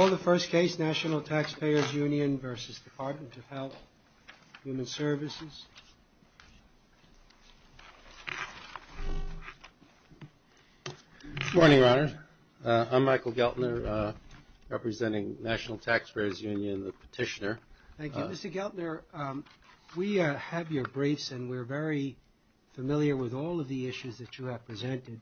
The first case, National Taxpayers Union v. Department of Health, Human Services, us. Michael Geltner Good morning, Your Honor. I'm Michael Geltner, representing National Taxpayers Union, the petitioner. Thank you. Mr. Geltner, we have your briefs and we're very familiar with all of the issues that you have presented.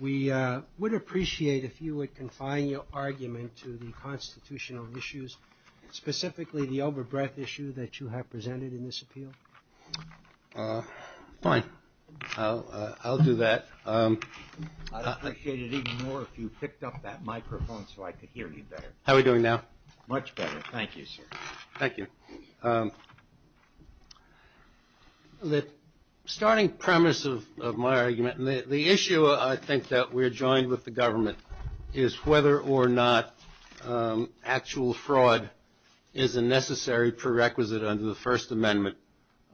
We would appreciate if you would confine your argument to the constitutional issues, specifically the over-breath issue that you have presented in this appeal. Mr. Geltner Fine. I'll do that. I'd appreciate it even more if you picked up that microphone so I could hear you better. How are we doing now? Much better. Thank you, sir. Mr. Geltner Thank you. The starting premise of my argument, and the issue I think that we're joined with the government, is whether or not actual fraud is a necessary prerequisite under the First Amendment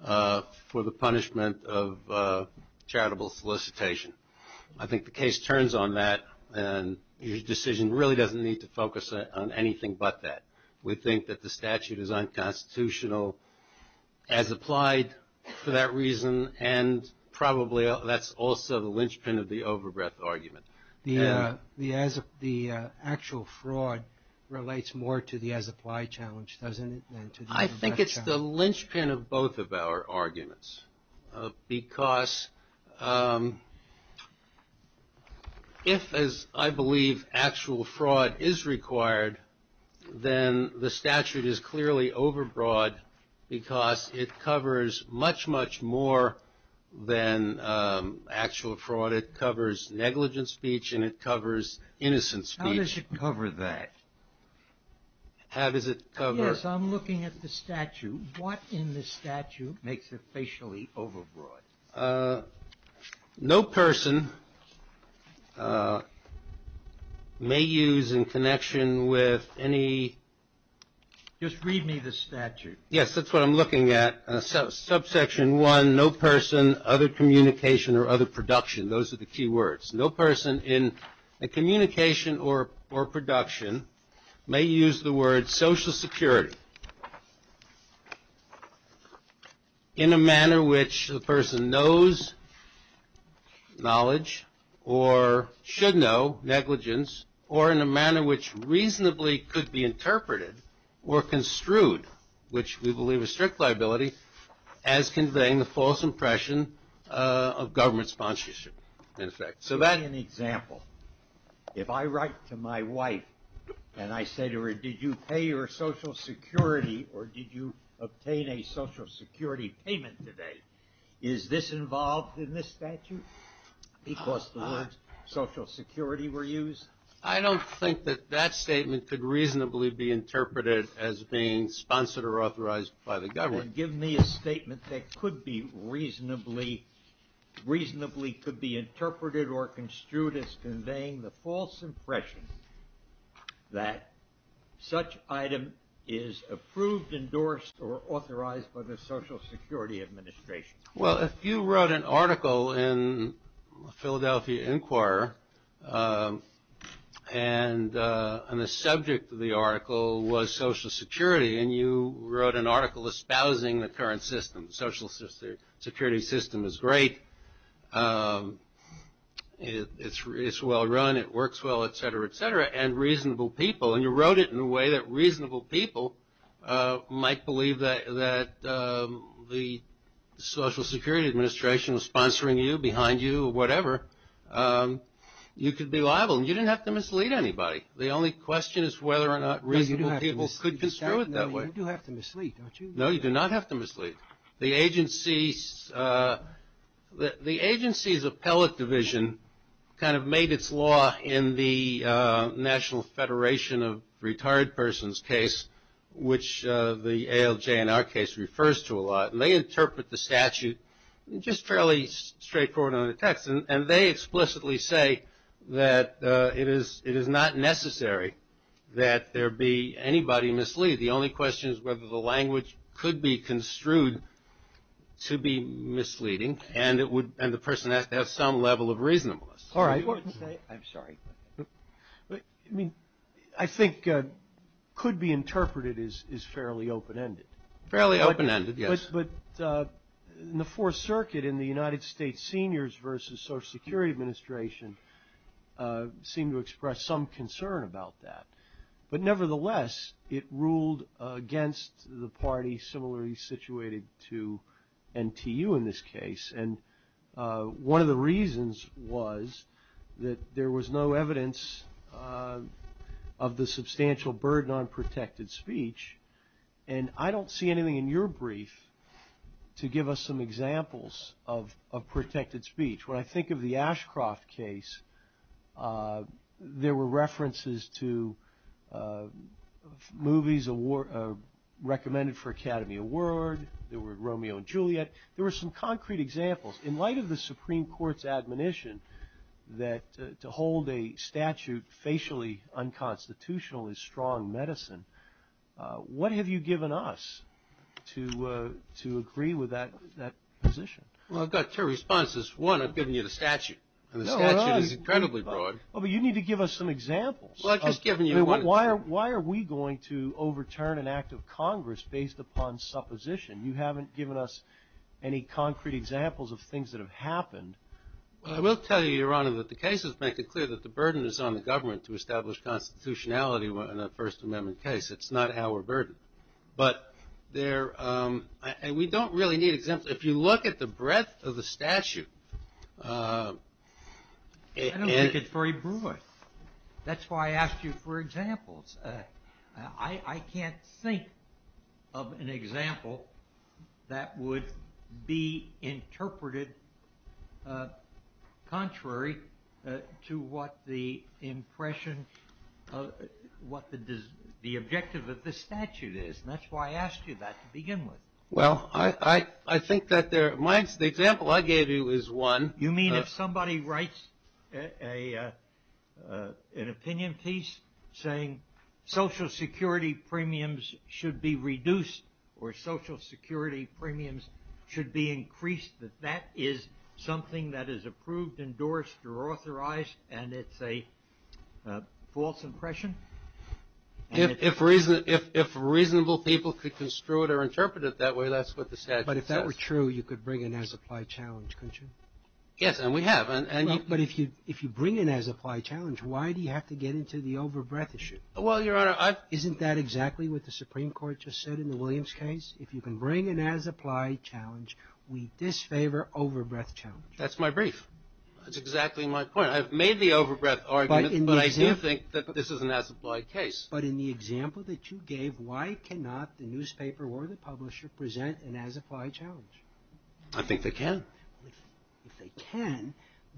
for the punishment of charitable solicitation. I think the case turns on that, and your decision really doesn't need to focus on anything but that. We think that the statute is unconstitutional as applied for that reason, and probably that's also the linchpin of the over-breath argument. The actual fraud relates more to the as-applied challenge, doesn't it, than to the over-breath challenge? I think it's the linchpin of both of our arguments because if, as I believe, actual fraud is required, then the statute is clearly over-broad because it covers much, much more than actual fraud. It covers negligent speech and it covers innocent speech. How does it cover that? How does it cover? Yes, I'm looking at the statute. What in the statute makes it facially over-broad? No person may use in connection with any... Just read me the statute. Yes, that's what I'm looking at. Subsection 1, no person, other communication or other production. Those are the key words. No person in a communication or production may use the word social security in a manner which the person knows knowledge or should know negligence or in a manner which reasonably could be interpreted or construed, which we believe is strict liability, as conveying the false impression of government sponsorship, in effect. So that... Give me an example. If I write to my wife and I say to her, did you pay your social security or did you obtain a social security payment today, is this involved in this statute? Because the words social security were used. I don't think that that statement could reasonably be interpreted as being sponsored or authorized by the government. Then give me a statement that could be reasonably, reasonably could be interpreted or construed as conveying the false impression that such item is approved, endorsed, or authorized by the Social Security Administration. Well, if you wrote an article in Philadelphia Inquirer and the subject of the article was social security and you wrote an article espousing the current system, social security system is great, it's well run, it works well, et cetera, et cetera, and reasonable people, and you wrote it in a way that reasonable people might believe that the Social Security Administration was sponsoring you, behind you, or whatever, you could be liable. You didn't have to mislead anybody. The only question is whether or not reasonable people could construe it that way. You do have to mislead, don't you? No, you do not have to mislead. The agency's appellate division kind of made its law in the National Federation of Retired Persons case, which the ALJ in our case refers to a lot, and they interpret the statute just fairly straightforward in the text, and they explicitly say that it is not necessary that there be anybody mislead. The only question is whether the language could be construed to be misleading and the person has to have some level of reasonableness. All right. I'm sorry. I think could be interpreted is fairly open-ended. Fairly open-ended, yes. But in the Fourth Circuit in the United States Seniors versus Social Security Administration seemed to express some concern about that. But nevertheless, it ruled against the party similarly situated to NTU in this case, and one of the reasons was that there was no evidence of the substantial burden on protected speech, and I don't see anything in your brief to give us some examples of protected speech. When I think of the Ashcroft case, there were references to movies recommended for Academy Award. There were Romeo and Juliet. There were some concrete examples. In light of the Supreme Court's admonition that to hold a statute facially unconstitutional is strong medicine, what have you given us to agree with that position? Well, I've got two responses. One, I've given you the statute, and the statute is incredibly broad. Well, but you need to give us some examples. Well, I've just given you one. Why are we going to overturn an act of Congress based upon supposition? You haven't given us any concrete examples of things that have happened. Well, I will tell you, Your Honor, that the cases make it clear that the burden is on the government to establish constitutionality in a First Amendment case. It's not our burden. And we don't really need examples. If you look at the breadth of the statute. I don't think it's very broad. That's why I asked you for examples. I can't think of an example that would be interpreted contrary to what the impression of what the objective of the statute is. And that's why I asked you that to begin with. Well, I think that there are – the example I gave you is one. You mean if somebody writes an opinion piece saying social security premiums should be reduced or social security premiums should be increased, that that is something that is approved, endorsed, or authorized, and it's a false impression? If reasonable people could construe it or interpret it that way, that's what the statute says. But if that were true, you could bring an as-applied challenge, couldn't you? Yes, and we have. But if you bring an as-applied challenge, why do you have to get into the over-breadth issue? Well, Your Honor, I've – Isn't that exactly what the Supreme Court just said in the Williams case? If you can bring an as-applied challenge, we disfavor over-breadth challenge. That's my brief. That's exactly my point. I've made the over-breadth argument, but I do think that this is an as-applied case. But in the example that you gave, why cannot the newspaper or the publisher present an as-applied challenge? I think they can. If they can,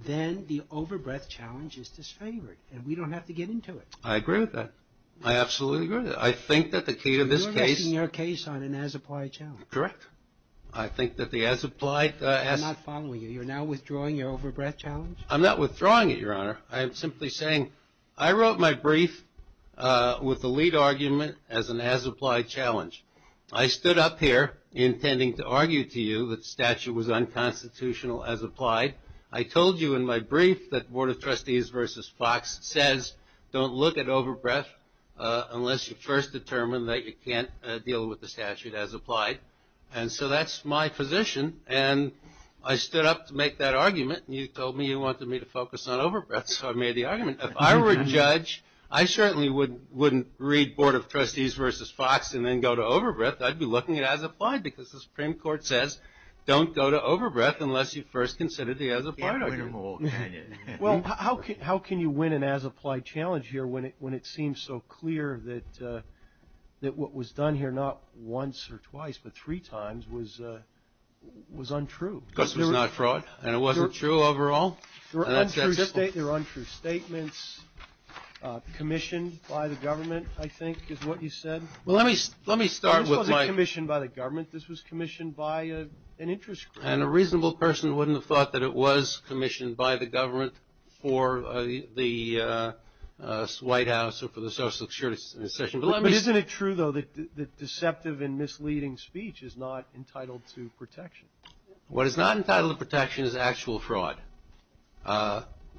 then the over-breadth challenge is disfavored, and we don't have to get into it. I agree with that. I absolutely agree with that. I think that the key to this case – You're resting your case on an as-applied challenge. Correct. I think that the as-applied – I'm not following you. You're now withdrawing your over-breadth challenge? I'm not withdrawing it, Your Honor. I'm simply saying I wrote my brief with the lead argument as an as-applied challenge. I stood up here intending to argue to you that the statute was unconstitutional as applied. I told you in my brief that Board of Trustees v. Fox says don't look at over-breadth unless you first determine that you can't deal with the statute as applied. And so that's my position. And I stood up to make that argument, and you told me you wanted me to focus on over-breadth, so I made the argument. If I were a judge, I certainly wouldn't read Board of Trustees v. Fox and then go to over-breadth. I'd be looking at as-applied because the Supreme Court says don't go to over-breadth unless you first consider the as-applied argument. You can't win them all, can you? Well, how can you win an as-applied challenge here when it seems so clear that what was done here not once or twice but three times was untrue? This was not fraud, and it wasn't true overall. There were untrue statements commissioned by the government, I think, is what you said. Well, let me start with my— This wasn't commissioned by the government. This was commissioned by an interest group. And a reasonable person wouldn't have thought that it was commissioned by the government for the White House or for the Social Security Session. But isn't it true, though, that deceptive and misleading speech is not entitled to protection? What is not entitled to protection is actual fraud.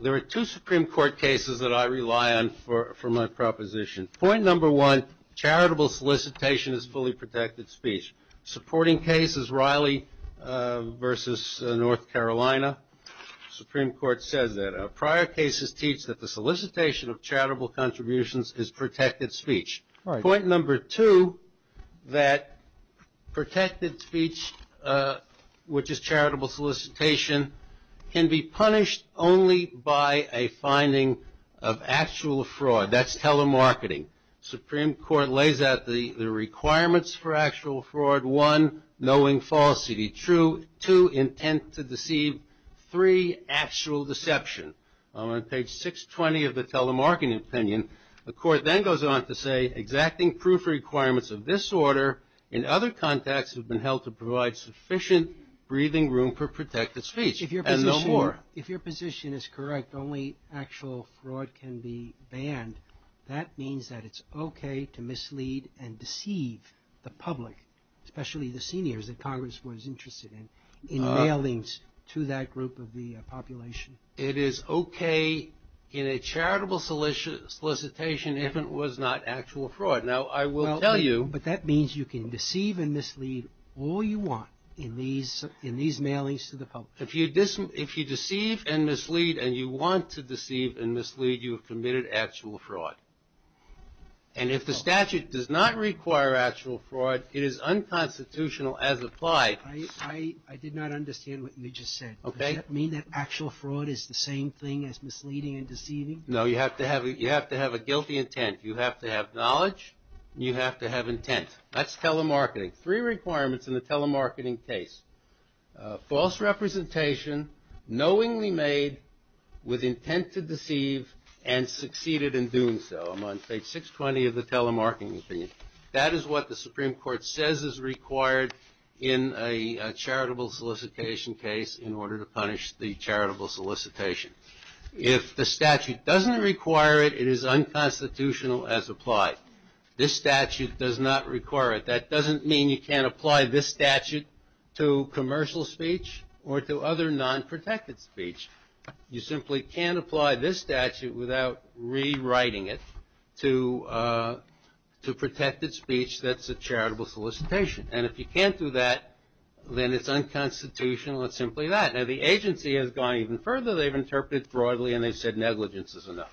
There are two Supreme Court cases that I rely on for my proposition. Point number one, charitable solicitation is fully protected speech. Supporting case is Riley v. North Carolina. The Supreme Court says that prior cases teach that the solicitation of charitable contributions is protected speech. Point number two, that protected speech, which is charitable solicitation, can be punished only by a finding of actual fraud. That's telemarketing. Supreme Court lays out the requirements for actual fraud. One, knowing falsity. Two, intent to deceive. Three, actual deception. On page 620 of the telemarketing opinion, the Court then goes on to say, exacting proof requirements of this order in other contexts have been held to provide sufficient breathing room for protected speech. And no more. If your position is correct, only actual fraud can be banned. That means that it's okay to mislead and deceive the public, especially the seniors that Congress was interested in, in mailings to that group of the population. It is okay in a charitable solicitation if it was not actual fraud. Now, I will tell you. But that means you can deceive and mislead all you want in these mailings to the public. If you deceive and mislead and you want to deceive and mislead, you have committed actual fraud. And if the statute does not require actual fraud, it is unconstitutional as applied. I did not understand what you just said. Does that mean that actual fraud is the same thing as misleading and deceiving? No, you have to have a guilty intent. You have to have knowledge. You have to have intent. That's telemarketing. Three requirements in the telemarketing case. False representation, knowingly made with intent to deceive, and succeeded in doing so. I'm on page 620 of the telemarketing opinion. That is what the Supreme Court says is required in a charitable solicitation case in order to punish the charitable solicitation. If the statute doesn't require it, it is unconstitutional as applied. This statute does not require it. That doesn't mean you can't apply this statute to commercial speech or to other non-protected speech. You simply can't apply this statute without rewriting it to protected speech that's a charitable solicitation. And if you can't do that, then it's unconstitutional. It's simply that. Now, the agency has gone even further. They've interpreted it broadly and they've said negligence is enough.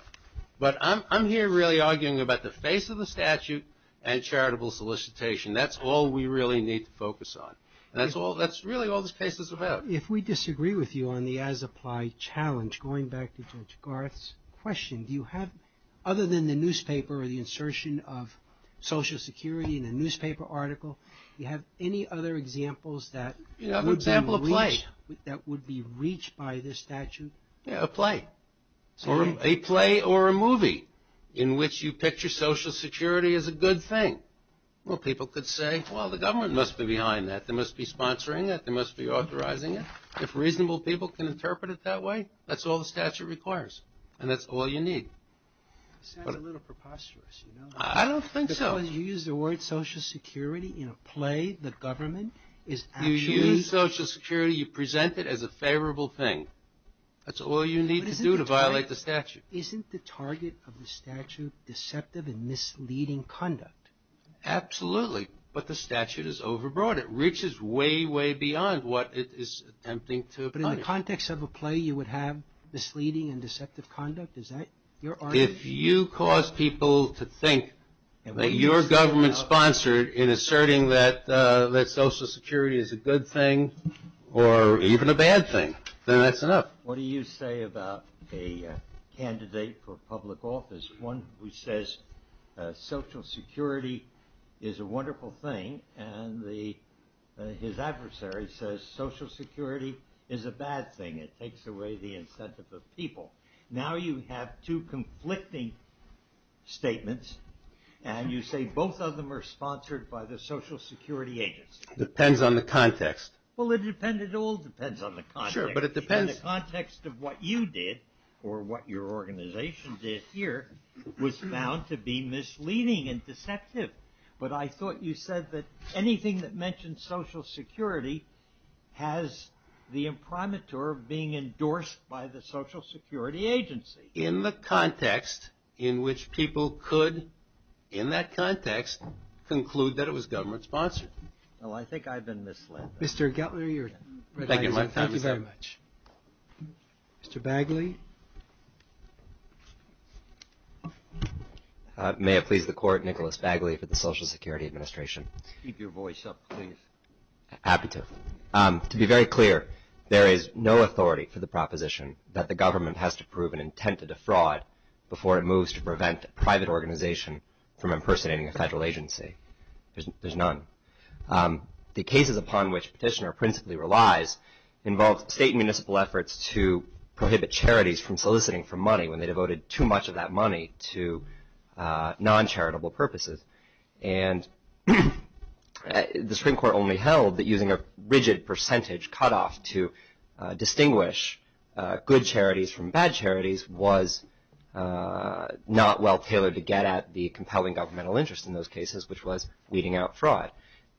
But I'm here really arguing about the face of the statute and charitable solicitation. That's all we really need to focus on. And that's really all this case is about. If we disagree with you on the as applied challenge, going back to Judge Garth's question, do you have, other than the newspaper or the insertion of Social Security in the newspaper article, do you have any other examples that would be reached by this statute? Yeah, a play. A play or a movie in which you picture Social Security as a good thing. Well, people could say, well, the government must be behind that. They must be sponsoring that. They must be authorizing it. If reasonable people can interpret it that way, that's all the statute requires. And that's all you need. It sounds a little preposterous, you know. I don't think so. You use the word Social Security in a play. The government is actually. You use Social Security. You present it as a favorable thing. That's all you need to do to violate the statute. Isn't the target of the statute deceptive and misleading conduct? Absolutely. But the statute is overbroad. It reaches way, way beyond what it is attempting to apply. But in the context of a play, you would have misleading and deceptive conduct? Is that your argument? If you cause people to think that your government sponsored in asserting that Social Security is a good thing or even a bad thing, then that's enough. What do you say about a candidate for public office, one who says Social Security is a wonderful thing and his adversary says Social Security is a bad thing. It takes away the incentive of people. Now you have two conflicting statements and you say both of them are sponsored by the Social Security agents. Depends on the context. Well, it all depends on the context. Sure, but it depends. The context of what you did or what your organization did here was found to be misleading and deceptive. But I thought you said that anything that mentions Social Security has the imprimatur of being endorsed by the Social Security agency. In the context in which people could, in that context, conclude that it was government sponsored. Well, I think I've been misled. Mr. Gettler, you're done. Thank you very much. Mr. Bagley. May it please the Court, Nicholas Bagley for the Social Security Administration. Keep your voice up, please. Happy to. To be very clear, there is no authority for the proposition that the government has to prove an intent to defraud before it moves to prevent a private organization from impersonating a federal agency. There's none. The cases upon which Petitioner principally relies involve state and municipal efforts to prohibit charities from soliciting for money when they devoted too much of that money to non-charitable purposes. And the Supreme Court only held that using a rigid percentage cutoff to distinguish good charities from bad charities was not well tailored to get at the compelling governmental interest in those cases, which was weeding out fraud.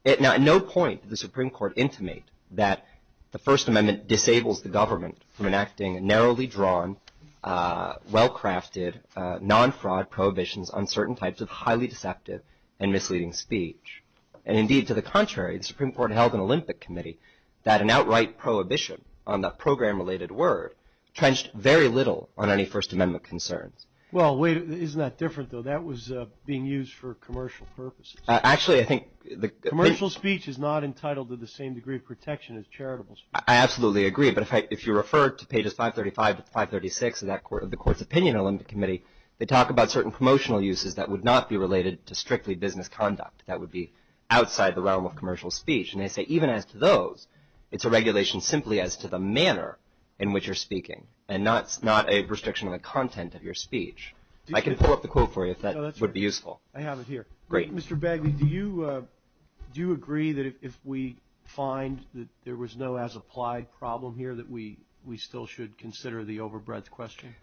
Now, at no point did the Supreme Court intimate that the First Amendment disables the government from enacting narrowly drawn, well-crafted, non-fraud prohibitions on certain types of highly deceptive and misleading speech. And indeed, to the contrary, the Supreme Court held in Olympic Committee that an outright prohibition on that program-related word trenched very little on any First Amendment concerns. Well, wait, isn't that different, though? That was being used for commercial purposes. Actually, I think the – Commercial speech is not entitled to the same degree of protection as charitable speech. I absolutely agree. But if you refer to pages 535 to 536 of the Court's opinion in Olympic Committee, they talk about certain promotional uses that would not be related to strictly business conduct, that would be outside the realm of commercial speech. And they say even as to those, it's a regulation simply as to the manner in which you're speaking and not a restriction on the content of your speech. I can pull up the quote for you if that would be useful. I have it here. Great. Mr. Bagley, do you agree that if we find that there was no as-applied problem here, that we still should consider the overbreadth question?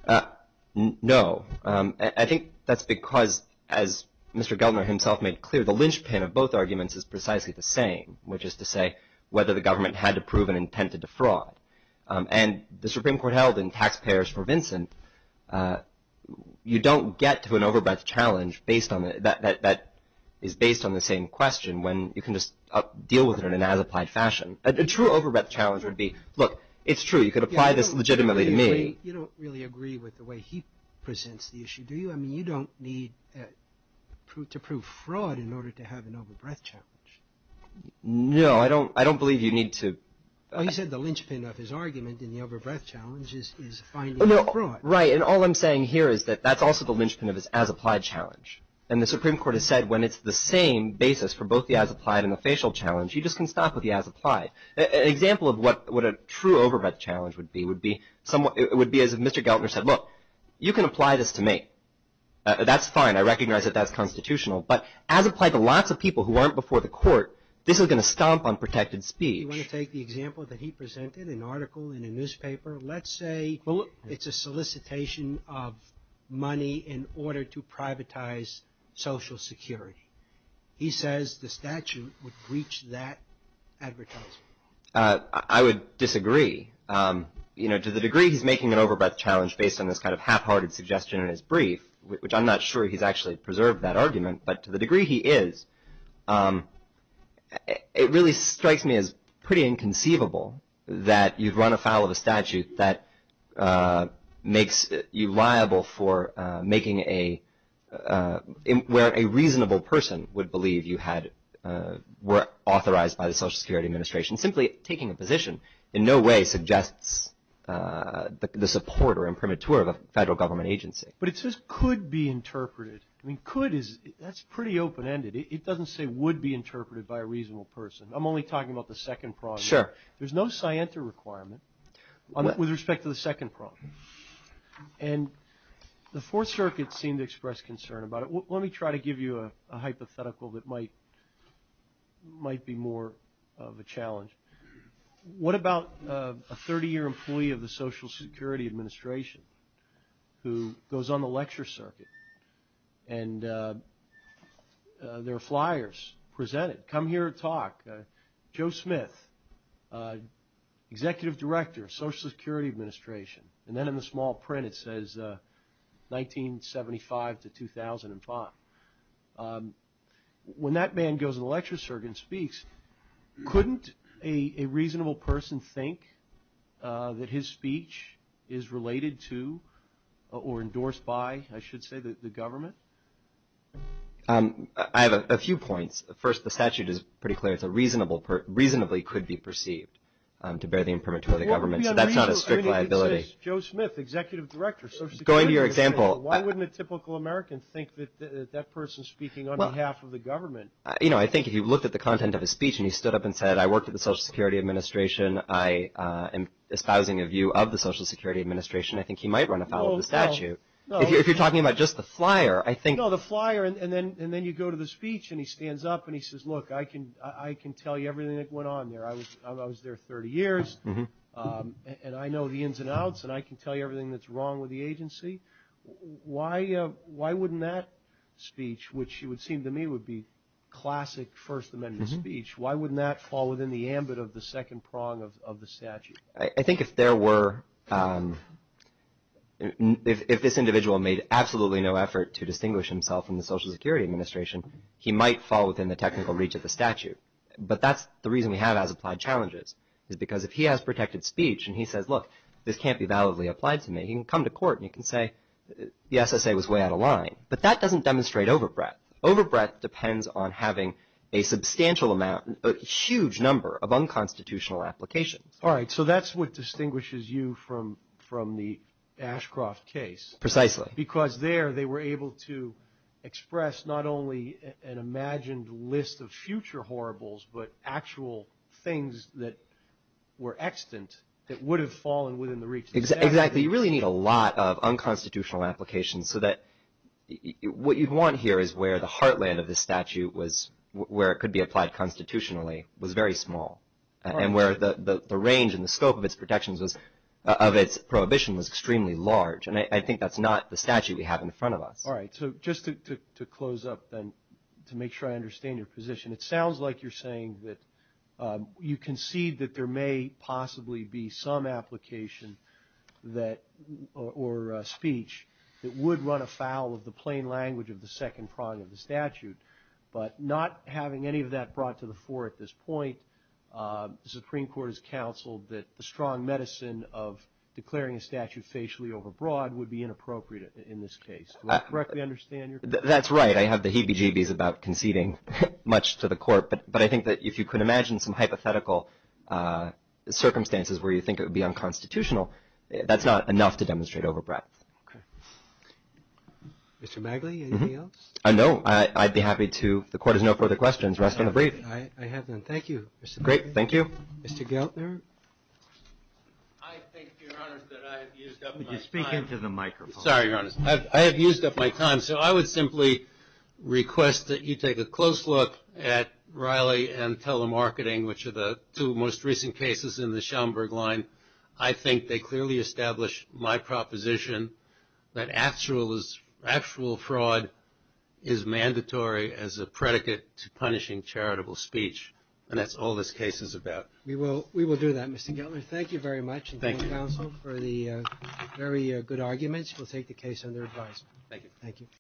No. I think that's because, as Mr. Gellner himself made clear, the linchpin of both arguments is precisely the same, which is to say whether the government had to prove an intent to defraud. And the Supreme Court held in Taxpayers for Vincent, you don't get to an overbreadth challenge that is based on the same question when you can just deal with it in an as-applied fashion. A true overbreadth challenge would be, look, it's true, you could apply this legitimately to me. You don't really agree with the way he presents the issue, do you? I mean, you don't need to prove fraud in order to have an overbreadth challenge. No, I don't believe you need to. He said the linchpin of his argument in the overbreadth challenge is finding fraud. Right, and all I'm saying here is that that's also the linchpin of his as-applied challenge. And the Supreme Court has said when it's the same basis for both the as-applied and the facial challenge, you just can stop with the as-applied. An example of what a true overbreadth challenge would be, it would be as if Mr. Geltner said, look, you can apply this to me. That's fine. I recognize that that's constitutional. But as applied to lots of people who aren't before the court, this is going to stomp on protected speech. You want to take the example that he presented, an article in a newspaper. Let's say it's a solicitation of money in order to privatize Social Security. He says the statute would breach that advertisement. I would disagree. You know, to the degree he's making an overbreadth challenge based on this kind of half-hearted suggestion in his brief, which I'm not sure he's actually preserved that argument, but to the degree he is, it really strikes me as pretty inconceivable that you'd run afoul of a statute that makes you liable for making a where a reasonable person would believe you were authorized by the Social Security Administration, simply taking a position in no way suggests the support or imprimatur of a federal government agency. But it says could be interpreted. I mean, could is, that's pretty open-ended. It doesn't say would be interpreted by a reasonable person. I'm only talking about the second problem. Sure. There's no scienter requirement with respect to the second problem. And the Fourth Circuit seemed to express concern about it. Let me try to give you a hypothetical that might be more of a challenge. What about a 30-year employee of the Social Security Administration who goes on the lecture circuit and there are flyers presented, come here and talk. Joe Smith, executive director, Social Security Administration. And then in the small print it says 1975 to 2005. When that man goes on the lecture circuit and speaks, couldn't a reasonable person think that his speech is related to or endorsed by, I should say, the government? I have a few points. First, the statute is pretty clear. It reasonably could be perceived to bear the imprimatur of the government. So that's not a strict liability. I mean, it exists. Joe Smith, executive director, Social Security Administration. Going to your example. Why wouldn't a typical American think that that person is speaking on behalf of the government? You know, I think if you looked at the content of his speech and he stood up and said, I worked for the Social Security Administration, I am espousing a view of the Social Security Administration, I think he might run afoul of the statute. If you're talking about just the flyer, I think. No, the flyer and then you go to the speech and he stands up and he says, look, I can tell you everything that went on there. I was there 30 years and I know the ins and outs and I can tell you everything that's wrong with the agency. Why wouldn't that speech, which it would seem to me would be classic First Amendment speech, why wouldn't that fall within the ambit of the second prong of the statute? I think if there were, if this individual made absolutely no effort to distinguish himself from the Social Security Administration, he might fall within the technical reach of the statute. But that's the reason we have as applied challenges is because if he has protected speech and he says, look, this can't be validly applied to me. He can come to court and he can say, yes, I say it was way out of line. But that doesn't demonstrate over breadth. Over breadth depends on having a substantial amount, a huge number of unconstitutional applications. All right. So that's what distinguishes you from the Ashcroft case. Precisely. Because there they were able to express not only an imagined list of future horribles, but actual things that were extant that would have fallen within the reach of the statute. Exactly. You really need a lot of unconstitutional applications. So that what you want here is where the heartland of the statute was, where it could be applied constitutionally, was very small. And where the range and the scope of its protections was, of its prohibition was extremely large. And I think that's not the statute we have in front of us. All right. So just to close up then to make sure I understand your position, it sounds like you're saying that you concede that there may possibly be some application that or speech that would run afoul of the plain language of the second prong of the statute. But not having any of that brought to the fore at this point, the Supreme Court has counseled that the strong medicine of declaring a statute facially overbroad would be inappropriate in this case. Do I correctly understand your question? That's right. I have the heebie-jeebies about conceding much to the court. But I think that if you could imagine some hypothetical circumstances where you think it would be unconstitutional, that's not enough to demonstrate overbreadth. Okay. Mr. Magli, anything else? No. I'd be happy to. If the court has no further questions, rest of the briefing. Okay. I have none. Thank you. Great. Thank you. Mr. Geltner? I think, Your Honors, that I have used up my time. Could you speak into the microphone? Sorry, Your Honors. I have used up my time. So I would simply request that you take a close look at Riley and telemarketing, which are the two most recent cases in the Schaumburg line. I think they clearly establish my proposition that actual fraud is mandatory as a predicate to punishing charitable speech, and that's all this case is about. We will do that, Mr. Geltner. Thank you very much. Thank you. Thank you, counsel, for the very good arguments. We'll take the case under advisement. Thank you.